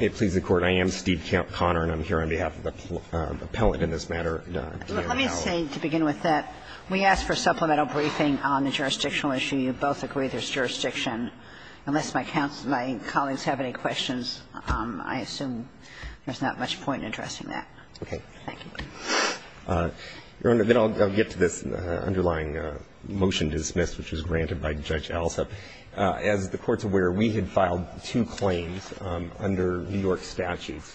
I am Steve Connor, and I'm here on behalf of the appellate in this matter, Deanna Powell. Let me say, to begin with, that we asked for a supplemental briefing on the jurisdictional issue. You both agree there's jurisdiction. Unless my colleagues have any questions, I assume there's not much point in addressing that. Okay. Thank you. Your Honor, then I'll get to this underlying motion dismissed, which was granted by Judge Alsop. As the Court's aware, we had filed two claims under New York statutes,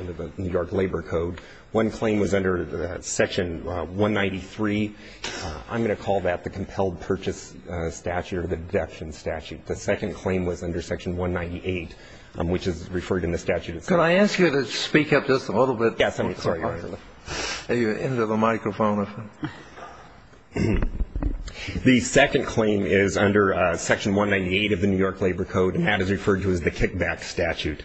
under the New York Labor Code. One claim was under Section 193. I'm going to call that the Compelled Purchase Statute or the Deduction Statute. The second claim was under Section 198, which is referred in the statute itself. Could I ask you to speak up just a little bit? Yes, I'm sorry, Your Honor. Are you into the microphone? The second claim is under Section 198 of the New York Labor Code, and that is referred to as the Kickback Statute.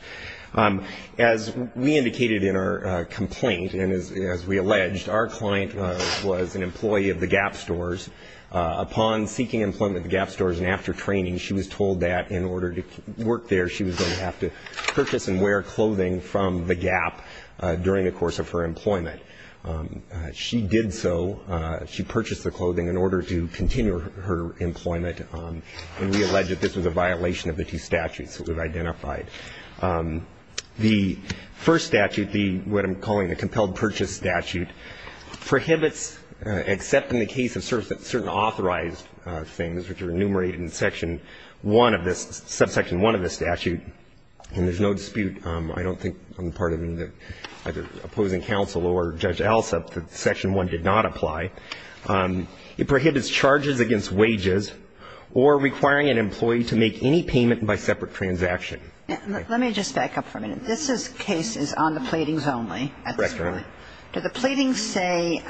As we indicated in our complaint and as we alleged, our client was an employee of the Gap stores. Upon seeking employment at the Gap stores and after training, she was told that in order to work there, she was going to have to purchase and wear clothing from the Gap during the course of her employment. She did so. She purchased the clothing in order to continue her employment, and we allege that this was a violation of the two statutes that we've identified. The first statute, what I'm calling the Compelled Purchase Statute, prohibits, except in the case of certain authorized things, which are enumerated in Section 1 of this, Subsection 1 of this statute, and there's no dispute. I don't think I'm part of either opposing counsel or Judge Alsop that Section 1 did not apply. It prohibits charges against wages or requiring an employee to make any payment by separate transaction. Let me just back up for a minute. This case is on the pleadings only at this point. Correct, Your Honor. Do the pleadings say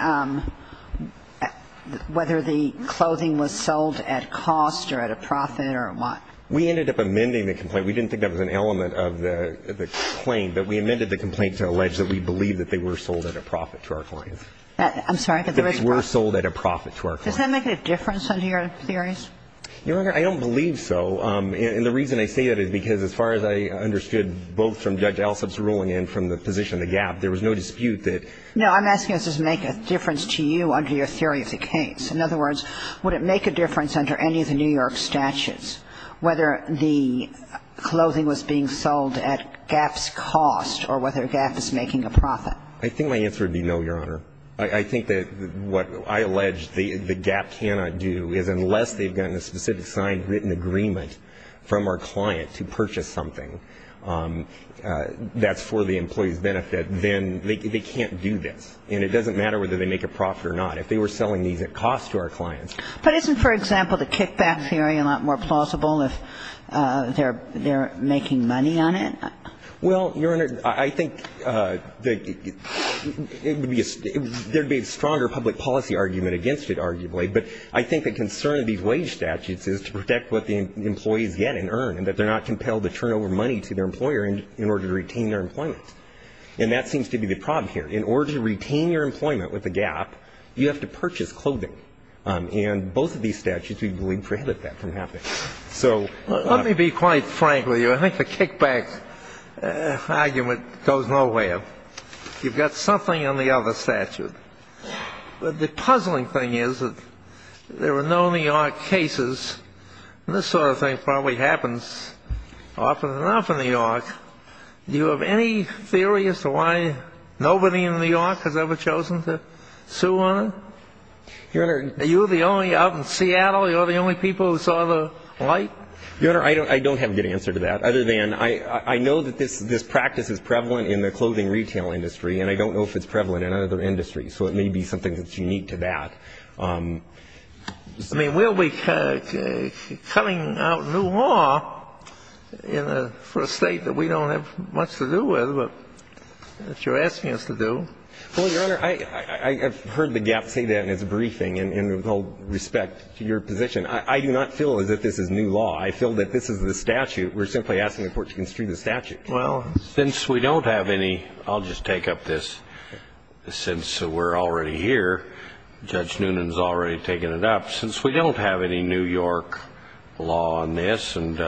whether the clothing was sold at cost or at a profit or what? We ended up amending the complaint. We didn't think that was an element of the claim, but we amended the complaint to allege that we believe that they were sold at a profit to our clients. I'm sorry. That they were sold at a profit to our clients. Does that make a difference under your theories? Your Honor, I don't believe so. And the reason I say that is because as far as I understood both from Judge Alsop's ruling and from the position of the Gap, there was no dispute that the Gap was sold at a profit. No, I'm asking does this make a difference to you under your theory of the case. In other words, would it make a difference under any of the New York statutes whether the clothing was being sold at Gap's cost or whether Gap is making a profit? I think my answer would be no, Your Honor. I think that what I allege the Gap cannot do is unless they've gotten a specific signed written agreement from our client to purchase something that's for the employee's benefit, then they can't do this. And it doesn't matter whether they make a profit or not. If they were selling these at cost to our clients. But isn't, for example, the kickback theory a lot more plausible if they're making money on it? Well, Your Honor, I think there would be a stronger public policy argument against it arguably. But I think the concern of these wage statutes is to protect what the employees get and earn and that they're not compelled to turn over money to their employer in order to retain their employment. And that seems to be the problem here. In order to retain your employment with the Gap, you have to purchase clothing. And both of these statutes, we believe, prohibit that from happening. Let me be quite frank with you. I think the kickback argument goes nowhere. You've got something on the other statute. But the puzzling thing is that there are no New York cases. This sort of thing probably happens often enough in New York. Do you have any theory as to why nobody in New York has ever chosen to sue on it? Your Honor. Are you the only out in Seattle, you're the only people who saw the light? Your Honor, I don't have a good answer to that other than I know that this practice is prevalent in the clothing retail industry. And I don't know if it's prevalent in other industries. So it may be something that's unique to that. I mean, we'll be cutting out new law for a State that we don't have much to do with, but that you're asking us to do. Well, Your Honor, I've heard the Gap say that in his briefing and with all respect to your position. I do not feel as if this is new law. I feel that this is the statute. We're simply asking the Court to construe the statute. Well, since we don't have any, I'll just take up this, since we're already here, Judge Noonan's already taken it up. Since we don't have any New York law on this and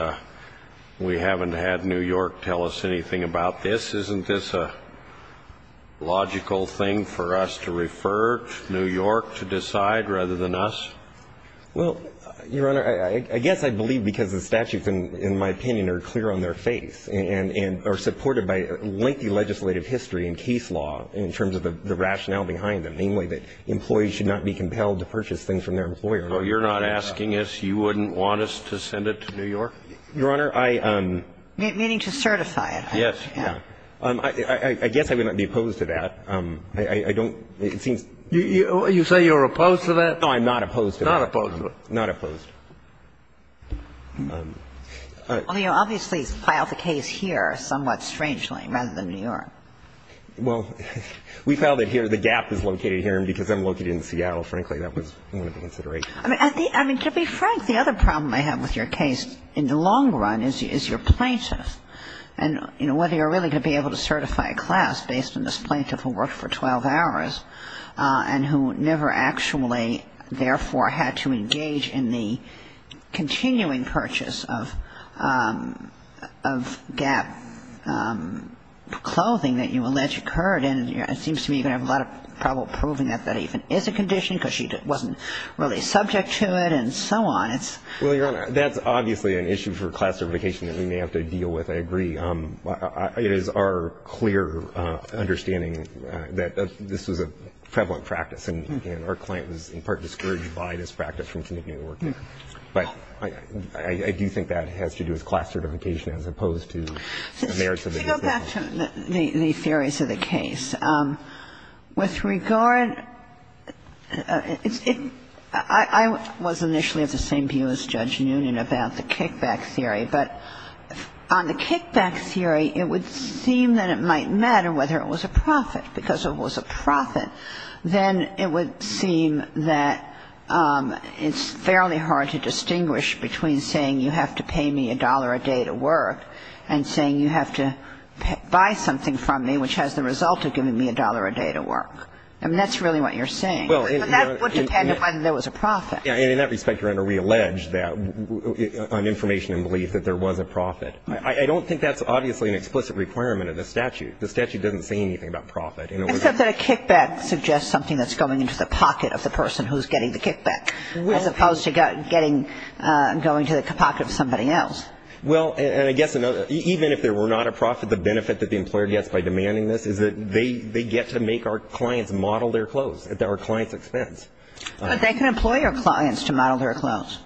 we haven't had New York tell us anything about this, isn't this a logical thing for us to refer to New York to decide rather than us? Well, Your Honor, I guess I believe because the statutes, in my opinion, are clear on their face and are supported by lengthy legislative history and case law in terms of the rationale behind them, I think it's fair to say that New York should not be compelled to purchase things I think it's fair to say, namely, that employees should not be compelled to purchase things from their employer. So you're not asking us, you wouldn't want us to send it to New York? Your Honor, I am. Meaning to certify it. Yes. Yeah. I guess I would not be opposed to that. I don't. It seems. You say you're opposed to that? No, I'm not opposed to that. Not opposed to it. Not opposed. Well, you obviously filed the case here somewhat strangely rather than New York. Well, we filed it here. The gap is located here because I'm located in Seattle. Frankly, that was one of the considerations. I mean, to be frank, the other problem I have with your case in the long run is your plaintiff And, you know, whether you're really going to be able to certify a class based on this plaintiff who worked for 12 hours and who never actually, therefore, had to engage in the continuing purchase of gap clothing that you allege occurred. And it seems to me you're going to have a lot of trouble proving that that even is a condition because she wasn't really subject to it and so on. Well, Your Honor, that's obviously an issue for class certification that we may have to deal with. I agree. It is our clear understanding that this was a prevalent practice, and our client was in part discouraged by this practice from continuing to work there. But I do think that has to do with class certification as opposed to the merits of the case. To go back to the theories of the case. With regard, I was initially of the same view as Judge Noonan about the kickback theory. But on the kickback theory, it would seem that it might matter whether it was a profit. Because if it was a profit, then it would seem that it's fairly hard to distinguish between saying you have to pay me a dollar a day to work and saying you have to buy something from me, which has the result of giving me a dollar a day to work. I mean, that's really what you're saying. But that would depend on whether there was a profit. And in that respect, Your Honor, we allege that on information and belief that there was a profit. I don't think that's obviously an explicit requirement of the statute. The statute doesn't say anything about profit. Except that a kickback suggests something that's going into the pocket of the person who's getting the kickback, as opposed to going to the pocket of somebody else. Well, and I guess another – even if there were not a profit, the benefit that the employer gets by demanding this is that they get to make our clients model their clothes at our client's expense. But they can employ our clients to model their clothes.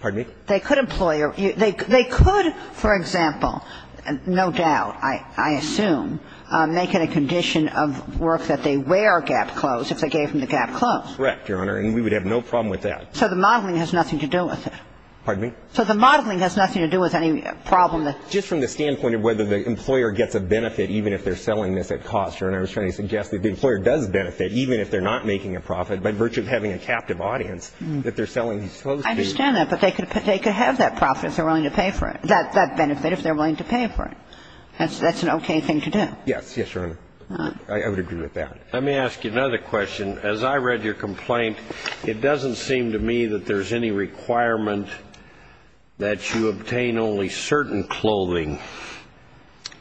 Pardon me? They could employ – they could, for example, no doubt, I assume, make it a condition of work that they wear GAP clothes if they gave them the GAP clothes. Correct, Your Honor. And we would have no problem with that. So the modeling has nothing to do with it. Pardon me? So the modeling has nothing to do with any problem that – Just from the standpoint of whether the employer gets a benefit even if they're selling this at cost. Your Honor, I was trying to suggest that the employer does benefit even if they're not making a profit by virtue of having a captive audience that they're selling these clothes to. I understand that. But they could have that profit if they're willing to pay for it – that benefit if they're willing to pay for it. That's an okay thing to do. Yes. Yes, Your Honor. I would agree with that. Let me ask you another question. As I read your complaint, it doesn't seem to me that there's any requirement that you obtain only certain clothing,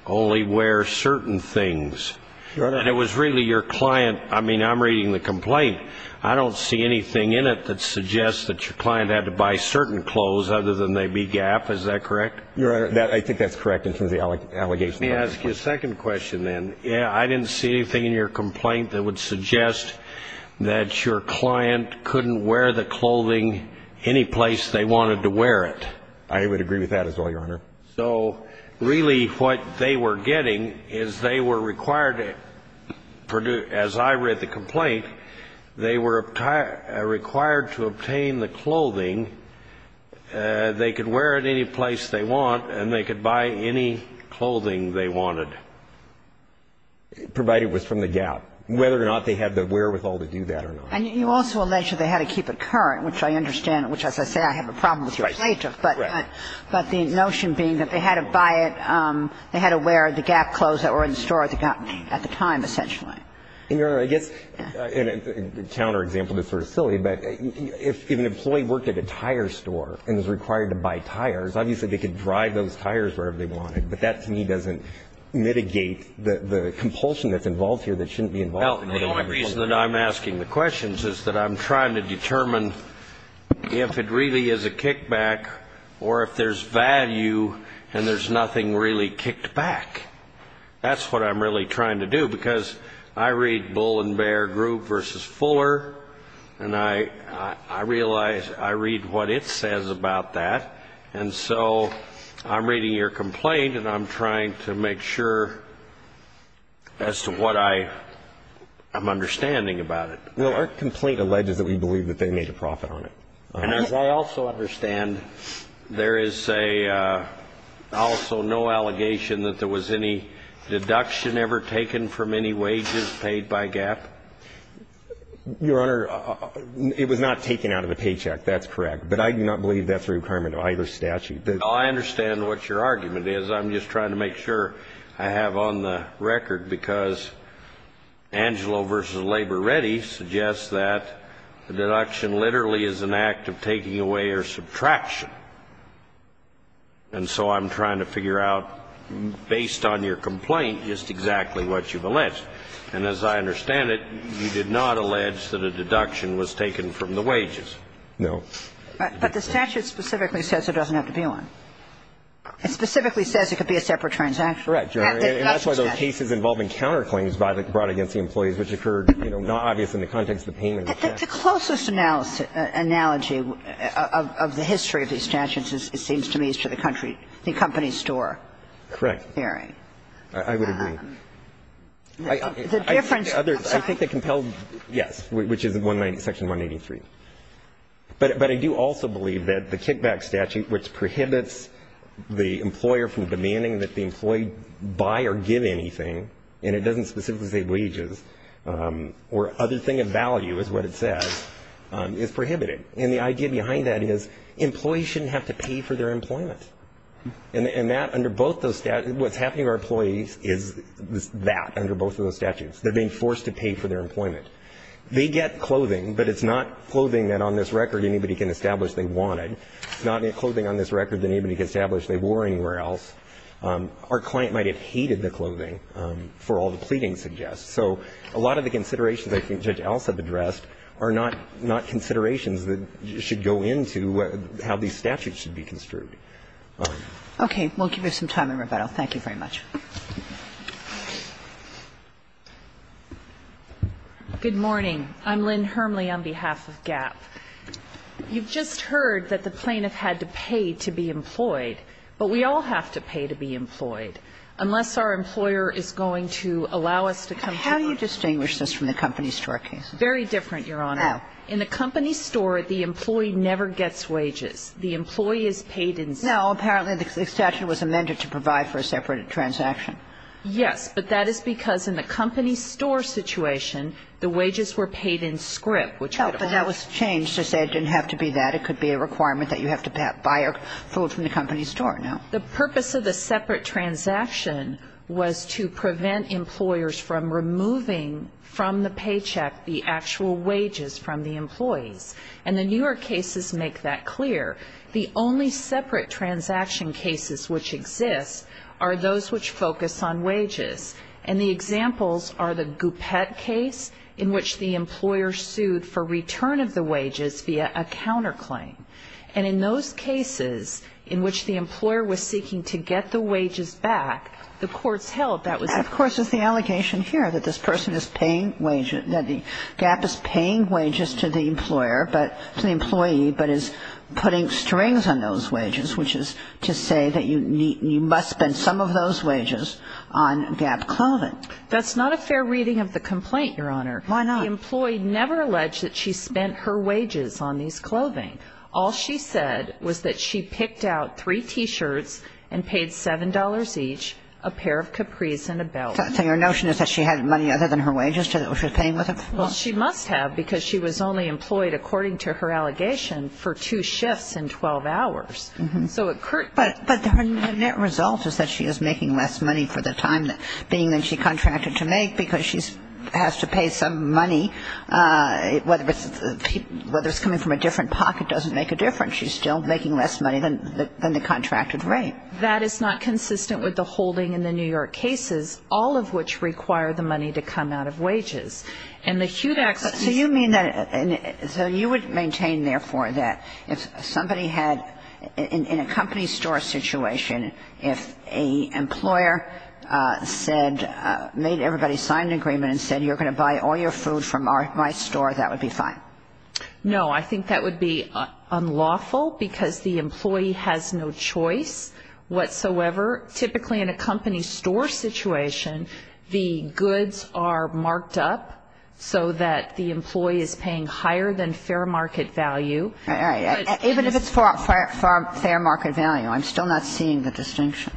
only wear certain things. Your Honor. And it was really your client – I mean, I'm reading the complaint. I don't see anything in it that suggests that your client had to buy certain clothes other than they be GAP. Is that correct? Your Honor, I think that's correct in terms of the allegation. Let me ask you a second question, then. I didn't see anything in your complaint that would suggest that your client couldn't wear the clothing any place they wanted to wear it. I would agree with that as well, Your Honor. So really what they were getting is they were required to – as I read the complaint, they were required to obtain the clothing. They could wear it any place they want, and they could buy any clothing they wanted, provided it was from the GAP, whether or not they had the wherewithal to do that or not. And you also allege that they had to keep it current, which I understand, which as I say I have a problem with your plaintiff. Right. But the notion being that they had to buy it – they had to wear the GAP clothes that were in the store at the time, essentially. Your Honor, I guess – and a counter example that's sort of silly, but if an employee worked at a tire store and was required to buy tires, obviously they could drive those tires wherever they wanted, but that to me doesn't mitigate the compulsion that's involved here that shouldn't be involved. Well, the only reason that I'm asking the questions is that I'm trying to determine if it really is a kickback or if there's value and there's nothing really kicked back. That's what I'm really trying to do because I read Bull and Bear Group versus Fuller and I realize I read what it says about that, and so I'm reading your complaint and I'm trying to make sure as to what I'm understanding about it. Well, our complaint alleges that we believe that they made a profit on it. And as I also understand, there is also no allegation that there was any deduction ever taken from any wages paid by GAP? Your Honor, it was not taken out of a paycheck. That's correct. But I do not believe that's a requirement of either statute. Well, I understand what your argument is. I'm just trying to make sure I have on the record because Angelo versus Labor Ready suggests that the deduction literally is an act of taking away or subtraction. And so I'm trying to figure out, based on your complaint, just exactly what you've alleged. And as I understand it, you did not allege that a deduction was taken from the wages. No. But the statute specifically says it doesn't have to be one. It specifically says it could be a separate transaction. Correct, Your Honor. And that's why those cases involving counterclaims brought against the employees which occurred, you know, not obvious in the context of the payment of the paycheck. But the closest analogy of the history of these statutes, it seems to me, is to the country, the company store hearing. Correct. I would agree. I think the compelled, yes, which is Section 183. But I do also believe that the kickback statute, which prohibits the employer from demanding that the employee buy or give anything, and it doesn't specifically say wages or other thing of value is what it says, is prohibited. And the idea behind that is employees shouldn't have to pay for their employment. And that under both those statutes, what's happening to our employees is that under both of those statutes. They're being forced to pay for their employment. They get clothing, but it's not clothing that on this record anybody can establish they wanted. It's not clothing on this record that anybody can establish they wore anywhere else. Our client might have hated the clothing for all the pleading suggests. So a lot of the considerations I think Judge Alsop addressed are not considerations that should go into how these statutes should be construed. Okay. We'll give you some time in rebuttal. Thank you very much. Good morning. I'm Lynn Hermley on behalf of GAP. You've just heard that the plaintiff had to pay to be employed, but we all have to pay to be employed unless our employer is going to allow us to come to work. How do you distinguish this from the company store case? Very different, Your Honor. How? In the company store, the employee never gets wages. The employee is paid in script. No. Apparently, the statute was amended to provide for a separate transaction. Yes. which would have worked. But that was changed to say it didn't have to be that. It could be a requirement that you have to buy food from the company store. No. The purpose of the separate transaction was to prevent employers from removing from the paycheck the actual wages from the employees. And the New York cases make that clear. The only separate transaction cases which exist are those which focus on wages. And the examples are the Goupette case in which the employer sued for return of the wages via a counterclaim. And in those cases in which the employer was seeking to get the wages back, the courts held that was the case. And, of course, it's the allegation here that this person is paying wages, that GAP is paying wages to the employer, to the employee, but is putting strings on those wages, which is to say that you must spend some of those wages on GAP clothing. That's not a fair reading of the complaint, Your Honor. Why not? The employee never alleged that she spent her wages on these clothing. All she said was that she picked out three T-shirts and paid $7 each, a pair of capris and a belt. So your notion is that she had money other than her wages that she was paying with them? Well, she must have because she was only employed, according to her allegation, for two shifts in 12 hours. But her net result is that she is making less money for the time being than she contracted to make because she has to pay some money. Whether it's coming from a different pocket doesn't make a difference. She's still making less money than the contracted rate. That is not consistent with the holding in the New York cases, all of which require the money to come out of wages. And the HUDACs used to be the same. So you would maintain, therefore, that if somebody had, in a company store situation, if an employer made everybody sign an agreement and said, you're going to buy all your food from my store, that would be fine? No. I think that would be unlawful because the employee has no choice whatsoever. Typically in a company store situation, the goods are marked up so that the employee is paying higher than fair market value. Even if it's for fair market value, I'm still not seeing the distinction.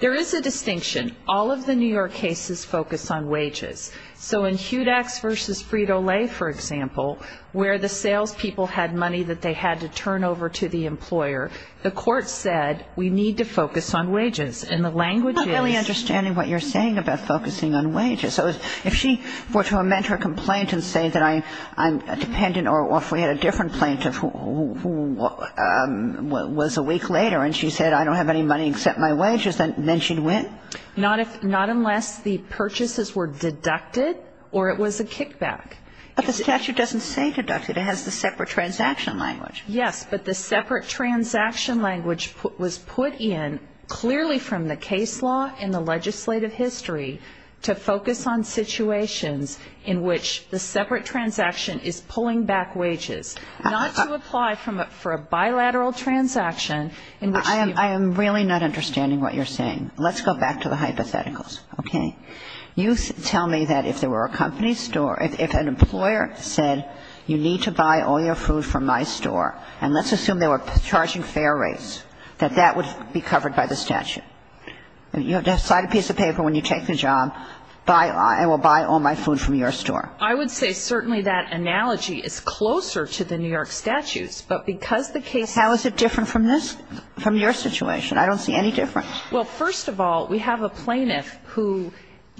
There is a distinction. All of the New York cases focus on wages. So in HUDACs v. Frito-Lay, for example, where the salespeople had money that they had to turn over to the employer, the court said we need to focus on wages. And the language is ñ I'm not really understanding what you're saying about focusing on wages. If she were to amend her complaint and say that I'm dependent or if we had a different complaint of who was a week later and she said, I don't have any money except my wages, then she'd win? Not unless the purchases were deducted or it was a kickback. But the statute doesn't say deducted. It has the separate transaction language. Yes, but the separate transaction language was put in clearly from the case law and the legislative history to focus on situations in which the separate transaction is pulling back wages, not to apply for a bilateral transaction in which you ñ I am really not understanding what you're saying. Let's go back to the hypotheticals, okay? You tell me that if there were a company store, if an employer said you need to buy all your food from my store, and let's assume they were charging fair rates, that that would be covered by the statute. You have to sign a piece of paper when you take the job, I will buy all my food from your store. I would say certainly that analogy is closer to the New York statutes. But because the case ñ How is it different from this, from your situation? I don't see any difference. Well, first of all, we have a plaintiff who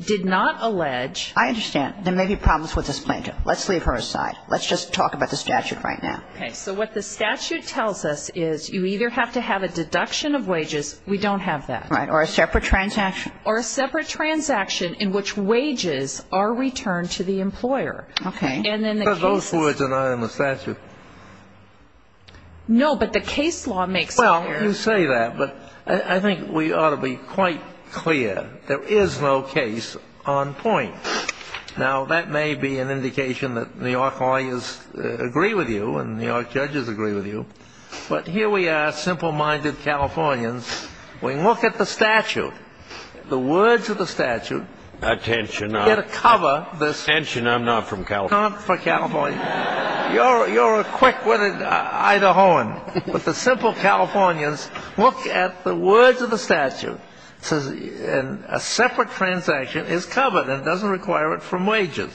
did not allege ñ I understand. There may be problems with this plaintiff. Let's leave her aside. Let's just talk about the statute right now. Okay. So what the statute tells us is you either have to have a deduction of wages, we don't have that. Right. Or a separate transaction. Or a separate transaction in which wages are returned to the employer. Okay. And then the case is ñ Those words are not in the statute. No, but the case law makes it clear. Well, you say that, but I think we ought to be quite clear. There is no case on point. Now, that may be an indication that New York lawyers agree with you and New York judges agree with you. But here we are, simple-minded Californians. We look at the statute, the words of the statute. Attention, I'm not from California. You're a quick-witted Idahoan. But the simple Californians look at the words of the statute, and a separate transaction is covered and doesn't require it from wages.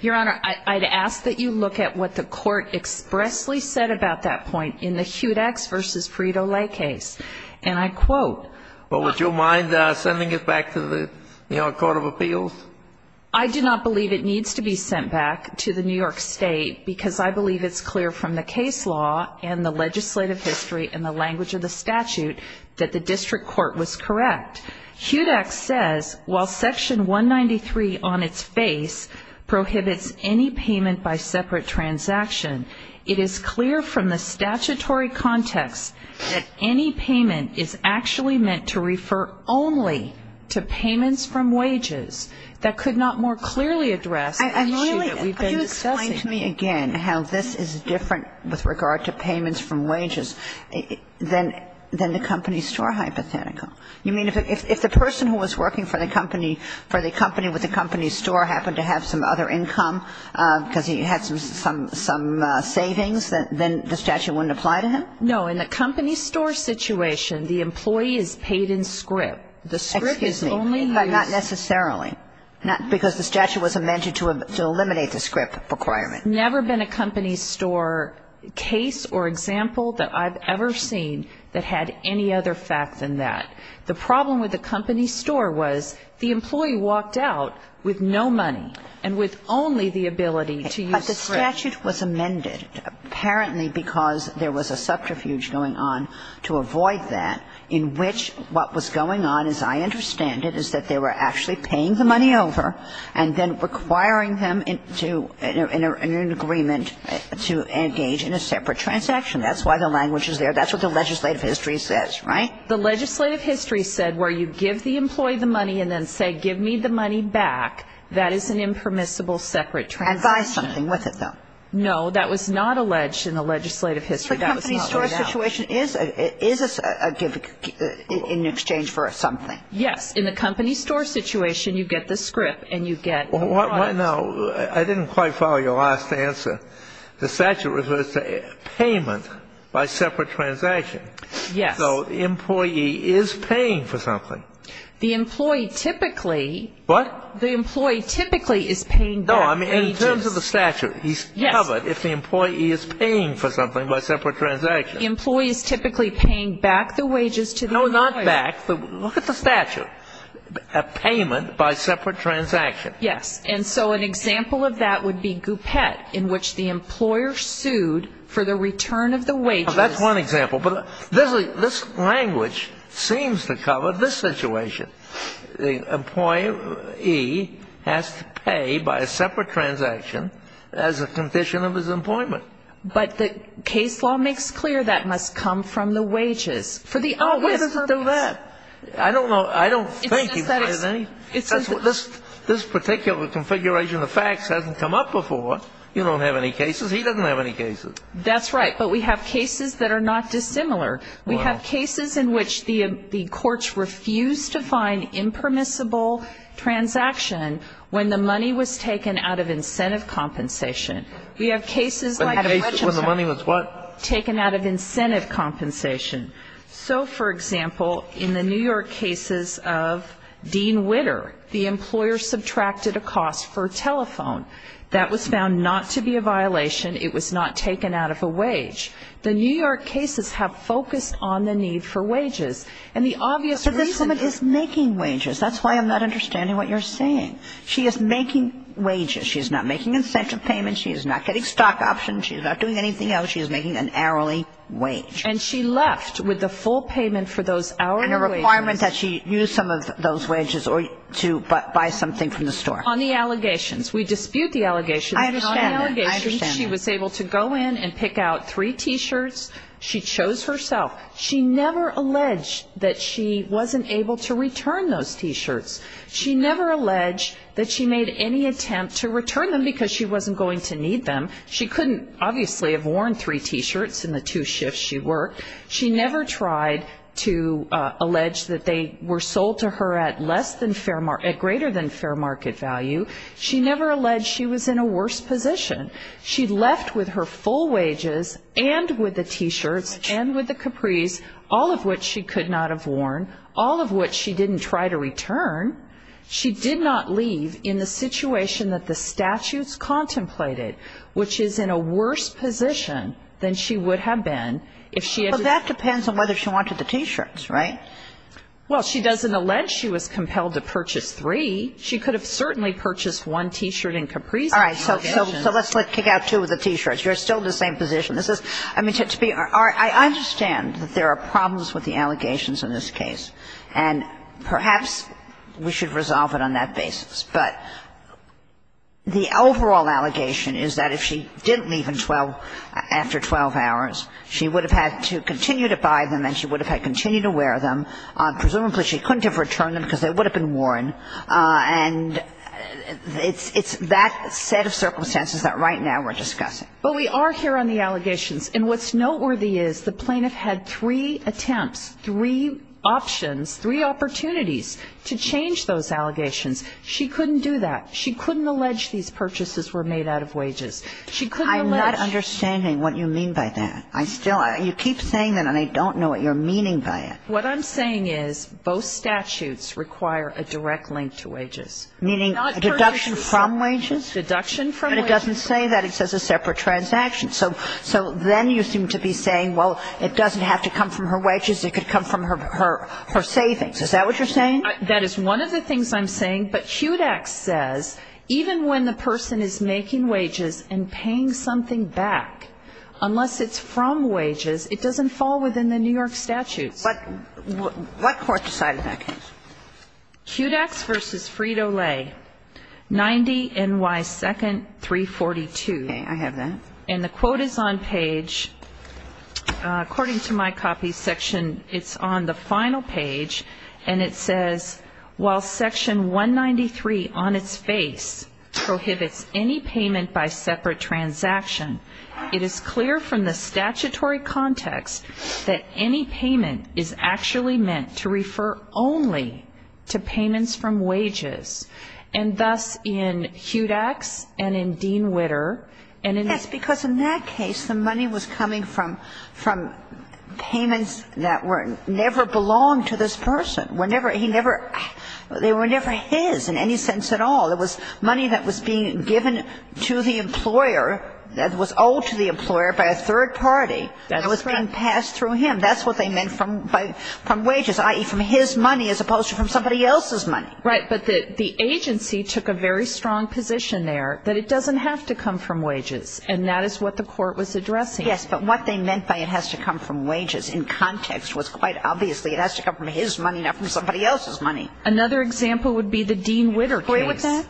Your Honor, I'd ask that you look at what the Court expressly said about that point in the Hudax v. Frito-Lay case, and I quote. Well, would you mind sending it back to the Court of Appeals? I do not believe it needs to be sent back to the New York State because I believe it's clear from the case law and the legislative history and the language of the statute that the district court was correct. Hudax says, while Section 193 on its face prohibits any payment by separate transaction, it is clear from the statutory context that any payment is actually meant to refer only to payments from wages. That could not more clearly address the issue that we've been discussing. And really, can you explain to me again how this is different with regard to payments from wages than the company store hypothetical? You mean if the person who was working for the company with the company store happened to have some other income because he had some savings, then the statute wouldn't apply to him? No. In the company store situation, the employee is paid in scrip. The scrip is only used. Excuse me. But not necessarily. Because the statute was amended to eliminate the scrip requirement. Never been a company store case or example that I've ever seen that had any other fact than that. The problem with the company store was the employee walked out with no money and with only the ability to use scrip. But the statute was amended apparently because there was a subterfuge going on to avoid that, in which what was going on, as I understand it, is that they were actually paying the money over and then requiring them into an agreement to engage in a separate transaction. That's why the language is there. That's what the legislative history says, right? The legislative history said where you give the employee the money and then say, give me the money back, that is an impermissible separate transaction. And buy something with it, though. No, that was not alleged in the legislative history. That was not allowed. So the company store situation is in exchange for something. Yes. In the company store situation, you get the scrip and you get the product. Now, I didn't quite follow your last answer. The statute refers to payment by separate transaction. Yes. So the employee is paying for something. The employee typically. What? The employee typically is paying back wages. No, I mean, in terms of the statute. Yes. He's covered if the employee is paying for something by separate transaction. The employee is typically paying back the wages to the employer. No, not back. Look at the statute. A payment by separate transaction. Yes. And so an example of that would be Goupette, in which the employer sued for the return of the wages. Well, that's one example. But this language seems to cover this situation. The employee has to pay by a separate transaction as a condition of his employment. But the case law makes clear that must come from the wages. For the obvious. No, it doesn't do that. I don't know. I don't think. This particular configuration of facts hasn't come up before. You don't have any cases. He doesn't have any cases. That's right. But we have cases that are not dissimilar. We have cases in which the courts refused to find impermissible transaction when the money was taken out of incentive compensation. We have cases like. When the money was what? Taken out of incentive compensation. So, for example, in the New York cases of Dean Witter, the employer subtracted a cost for a telephone. That was found not to be a violation. It was not taken out of a wage. The New York cases have focused on the need for wages. And the obvious reason. But this woman is making wages. That's why I'm not understanding what you're saying. She is making wages. She is not making incentive payments. She is not getting stock options. She is not doing anything else. She is making an hourly wage. And she left with the full payment for those hourly wages. And a requirement that she use some of those wages or to buy something from the store. On the allegations. We dispute the allegations. I understand that. On the allegations, she was able to go in and pick out three T-shirts. She chose herself. She never alleged that she wasn't able to return those T-shirts. She never alleged that she made any attempt to return them because she wasn't going to need them. She couldn't, obviously, have worn three T-shirts in the two shifts she worked. She never tried to allege that they were sold to her at greater than fair market value. She never alleged she was in a worse position. She left with her full wages and with the T-shirts and with the capris, all of which she could not have worn, all of which she didn't try to return. She did not leave in the situation that the statutes contemplated, which is in a worse position than she would have been if she had. Well, that depends on whether she wanted the T-shirts, right? Well, she doesn't allege she was compelled to purchase three. She could have certainly purchased one T-shirt and capris. All right. So let's kick out two of the T-shirts. You're still in the same position. This is to be – I understand that there are problems with the allegations in this case. And perhaps we should resolve it on that basis. But the overall allegation is that if she didn't leave after 12 hours, she would have had to continue to buy them and she would have had to continue to wear them. Presumably, she couldn't have returned them because they would have been worn. And it's that set of circumstances that right now we're discussing. But we are here on the allegations. And what's noteworthy is the plaintiff had three attempts, three options, three opportunities to change those allegations. She couldn't do that. She couldn't allege these purchases were made out of wages. She couldn't allege – I'm not understanding what you mean by that. I still – you keep saying that and I don't know what you're meaning by it. What I'm saying is both statutes require a direct link to wages. Meaning a deduction from wages? A deduction from wages. But it doesn't say that. It says a separate transaction. So then you seem to be saying, well, it doesn't have to come from her wages. It could come from her savings. Is that what you're saying? That is one of the things I'm saying. But HUDEX says even when the person is making wages and paying something back, unless it's from wages, it doesn't fall within the New York statutes. What court decided that case? HUDEX v. Frito-Lay, 90 NY 2nd, 342. Okay. I have that. And the quote is on page – according to my copy section, it's on the final page. And it says, I see. And it says, While section 193 on its face prohibits any payment by separate transaction, it is clear from the statutory context that any payment is actually meant to refer only to payments from wages. And thus, in Hudax and in Dean Witter, and in this case, the money was coming from payments that never belonged to this person. They were never his in any sense at all. It was money that was being given to the employer, that was owed to the employer by a third party that was being passed through him. That's what they meant from wages, i.e., from his money, as opposed to from somebody else's money. Right. But the agency took a very strong position there that it doesn't have to come from wages, and that is what the court was addressing. Yes. But what they meant by it has to come from wages in context was quite obviously it has to come from his money, not from somebody else's money. Another example would be the Dean Witter case. Do you agree with that?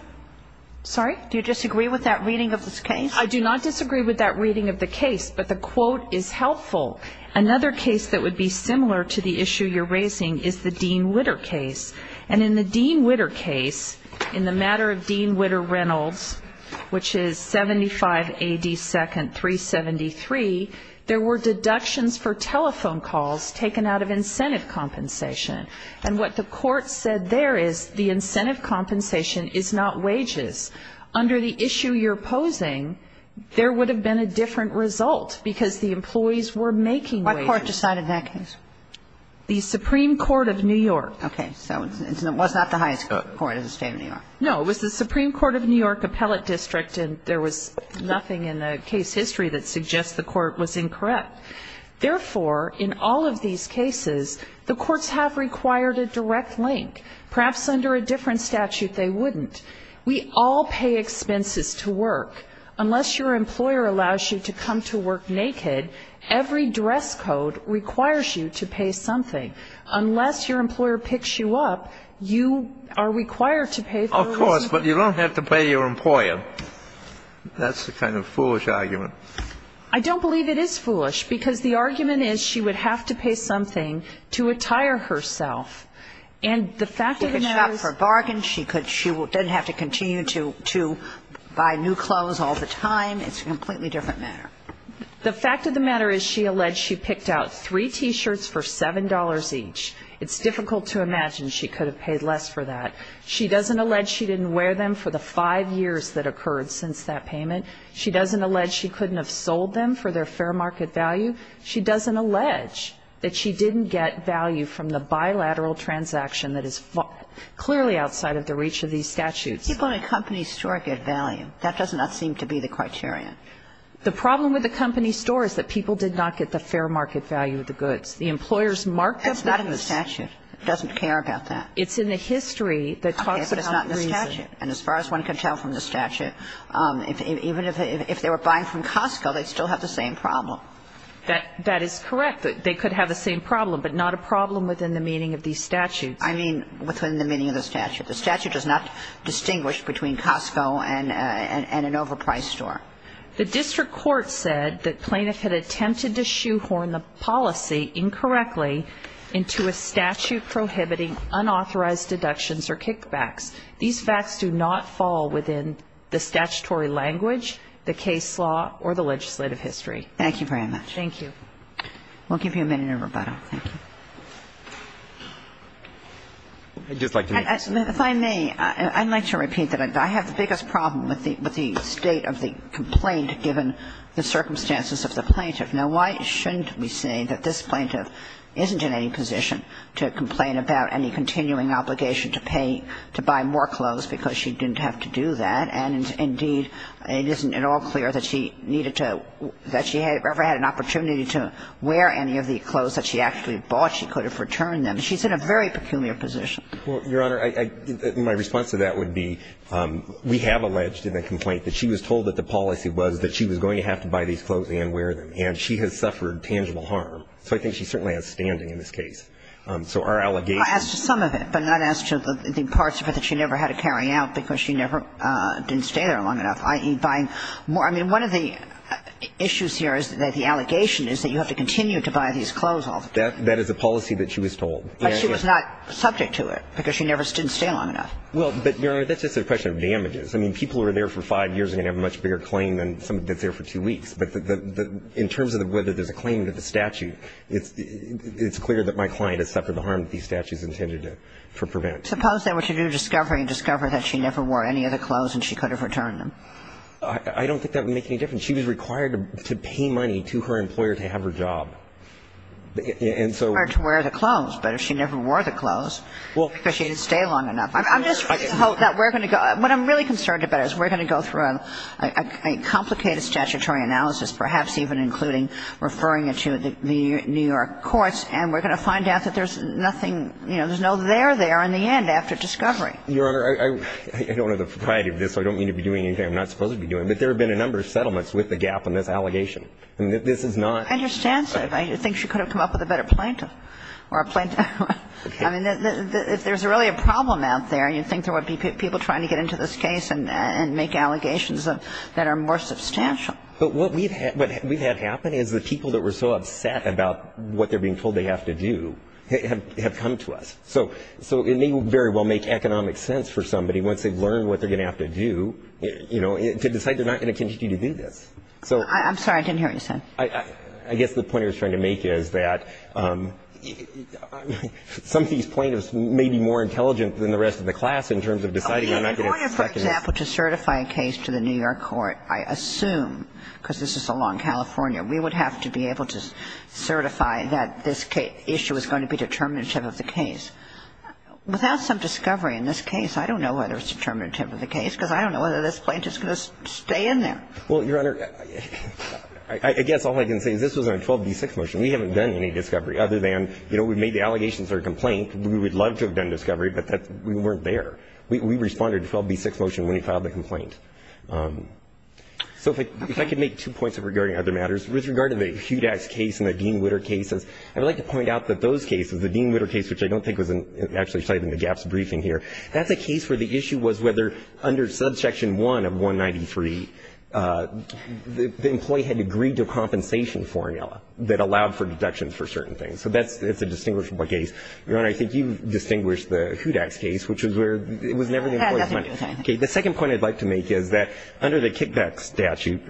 Sorry? Do you disagree with that reading of this case? I do not disagree with that reading of the case, but the quote is helpful. Another case that would be similar to the issue you're raising is the Dean Witter case. And in the Dean Witter case, in the matter of Dean Witter Reynolds, which is 75 AD 2nd 373, there were deductions for telephone calls taken out of incentive compensation. And what the court said there is the incentive compensation is not wages. Under the issue you're posing, there would have been a different result because the employees were making wages. What court decided that case? The Supreme Court of New York. Okay. So it was not the highest court in the State of New York. No. It was the Supreme Court of New York Appellate District, and there was nothing in the case history that suggests the court was incorrect. Therefore, in all of these cases, the courts have required a direct link. Perhaps under a different statute, they wouldn't. We all pay expenses to work. Unless your employer allows you to come to work naked, every duress code requires you to pay something. Unless your employer picks you up, you are required to pay for a reason. Of course, but you don't have to pay your employer. That's the kind of foolish argument. I don't believe it is foolish, because the argument is she would have to pay something to attire herself. And the fact of the matter is she could shop for bargains. She didn't have to continue to buy new clothes all the time. It's a completely different matter. The fact of the matter is she alleged she picked out three T-shirts for $7 each. It's difficult to imagine she could have paid less for that. She doesn't allege she didn't wear them for the five years that occurred since that payment. She doesn't allege she couldn't have sold them for their fair market value. She doesn't allege that she didn't get value from the bilateral transaction that is clearly outside of the reach of these statutes. People in a company store get value. That does not seem to be the criterion. The problem with a company store is that people did not get the fair market value of the goods. The employers marked the goods. That's not in the statute. It doesn't care about that. It's in the history that talks about the reason. Okay, but it's not in the statute. And as far as one can tell from the statute, even if they were buying from Costco, they'd still have the same problem. That is correct. They could have the same problem, but not a problem within the meaning of these statutes. I mean within the meaning of the statute. The statute does not distinguish between Costco and an overpriced store. The district court said that plaintiff had attempted to shoehorn the policy incorrectly into a statute prohibiting unauthorized deductions or kickbacks. These facts do not fall within the statutory language, the case law, or the legislative history. Thank you very much. Thank you. We'll give you a minute in rebuttal. Thank you. I'd just like to make a comment. If I may, I'd like to repeat that I have the biggest problem with the state of the complaint given the circumstances of the plaintiff. Now, why shouldn't we say that this plaintiff isn't in any position to complain about any continuing obligation to pay, to buy more clothes because she didn't have to do that, and indeed, it isn't at all clear that she needed to, that she ever had an opportunity to wear any of the clothes that she actually bought. She could have returned them. She's in a very peculiar position. Well, Your Honor, I think my response to that would be we have alleged in the complaint that she was told that the policy was that she was going to have to buy these clothes and wear them, and she has suffered tangible harm. So I think she certainly has standing in this case. So our allegation is that she didn't have to do that. Well, as to some of it, but not as to the parts of it that she never had to carry out because she never didn't stay there long enough, i.e., buying more. I mean, one of the issues here is that the allegation is that you have to continue to buy these clothes all the time. That is a policy that she was told. But she was not subject to it because she never didn't stay long enough. Well, but, Your Honor, that's just a question of damages. I mean, people who are there for five years are going to have a much bigger claim than somebody that's there for two weeks. But in terms of whether there's a claim to the statute, it's clear that my client has suffered the harm that these statutes intended to prevent. Suppose they were to do a discovery and discover that she never wore any of the clothes and she could have returned them. I don't think that would make any difference. She was required to pay money to her employer to have her job. And so ---- It's hard to wear the clothes. But if she never wore the clothes because she didn't stay long enough. I'm just hoping that we're going to go. What I'm really concerned about is we're going to go through a complicated statutory analysis, perhaps even including referring it to the New York courts, and we're going to find out that there's nothing, you know, there's no there there in the end after discovery. Your Honor, I don't have the variety of this. So I don't mean to be doing anything I'm not supposed to be doing. But there have been a number of settlements with the gap in this allegation. This is not ---- I understand, sir. I think she could have come up with a better plaintiff or a plaintiff. I mean, if there's really a problem out there, you'd think there would be people trying to get into this case and make allegations that are more substantial. But what we've had happen is the people that were so upset about what they're being told they have to do have come to us. So it may very well make economic sense for somebody once they've learned what they're supposed to do, you know, to decide they're not going to continue to do this. So ---- I'm sorry. I didn't hear what you said. I guess the point I was trying to make is that some of these plaintiffs may be more intelligent than the rest of the class in terms of deciding they're not going to ---- In order, for example, to certify a case to the New York court, I assume, because this is a law in California, we would have to be able to certify that this issue is going to be determinative of the case. Without some discovery in this case, I don't know whether it's determinative of the case, because I don't know whether this plaintiff is going to stay in there. Well, Your Honor, I guess all I can say is this was on 12b-6 motion. We haven't done any discovery other than, you know, we've made the allegations that are a complaint. We would love to have done discovery, but we weren't there. We responded to 12b-6 motion when we filed the complaint. So if I could make two points regarding other matters. With regard to the Hudax case and the Dean-Witter cases, I would like to point out that those cases, the Dean-Witter case, which I don't think was actually cited in the statute, under subsection 1 of 193, the employee had agreed to a compensation formula that allowed for deduction for certain things. So that's a distinguishable case. Your Honor, I think you distinguished the Hudax case, which was where it was never the employee's money. The second point I'd like to make is that under the kickback statute,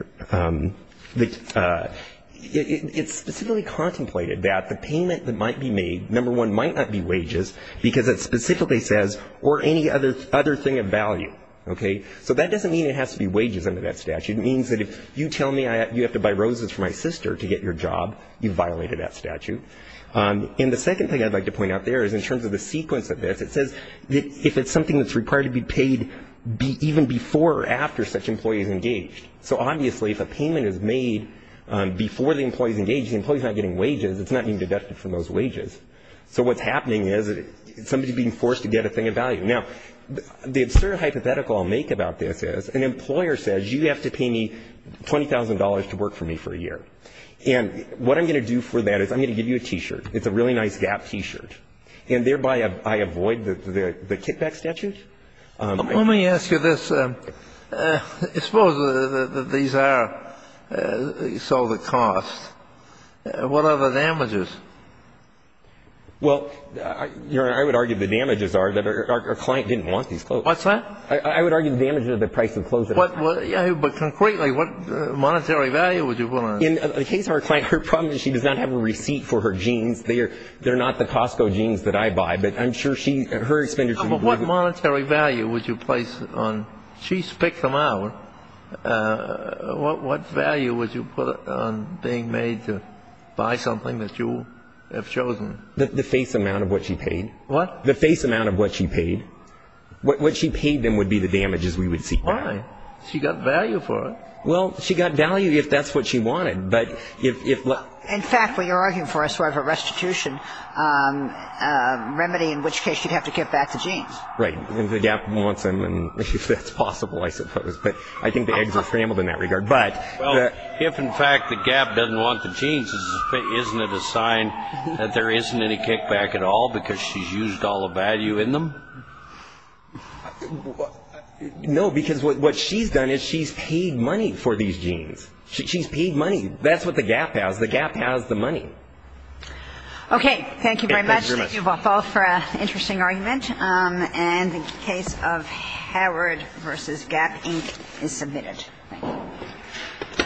it's specifically contemplated that the payment that might be made, number one, might not be wages because it specifically says, or any other thing of value. Okay? So that doesn't mean it has to be wages under that statute. It means that if you tell me you have to buy roses for my sister to get your job, you've violated that statute. And the second thing I'd like to point out there is in terms of the sequence of this, it says that if it's something that's required to be paid even before or after such employee is engaged. So obviously if a payment is made before the employee is engaged, the employee is not getting wages. It's not being deducted from those wages. So what's happening is somebody is being forced to get a thing of value. Now, the absurd hypothetical I'll make about this is an employer says you have to pay me $20,000 to work for me for a year. And what I'm going to do for that is I'm going to give you a T-shirt. It's a really nice Gap T-shirt. And thereby I avoid the kickback statute. Let me ask you this. Suppose that these are so the cost. What are the damages? Well, Your Honor, I would argue the damages are that our client didn't want these clothes. What's that? I would argue the damages are the price of clothes. But concretely, what monetary value would you put on it? In the case of our client, her problem is she does not have a receipt for her jeans. They are not the Costco jeans that I buy. But I'm sure she, her expenditure would be. But what monetary value would you place on? She picked them out. What value would you put on being made to buy something that you have chosen? The face amount of what she paid. What? The face amount of what she paid. What she paid them would be the damages we would see. Why? She got value for it. Well, she got value if that's what she wanted. In fact, what you're arguing for is sort of a restitution remedy in which case you'd have to get back the jeans. Right. If the GAP wants them and if that's possible, I suppose. But I think the eggs are scrambled in that regard. But if, in fact, the GAP doesn't want the jeans, isn't it a sign that there isn't any kickback at all because she's used all the value in them? No, because what she's done is she's paid money for these jeans. She's paid money. That's what the GAP has. The GAP has the money. Okay. Thank you very much. Thank you both for an interesting argument. And the case of Howard v. GAP, Inc. is submitted. Thank you.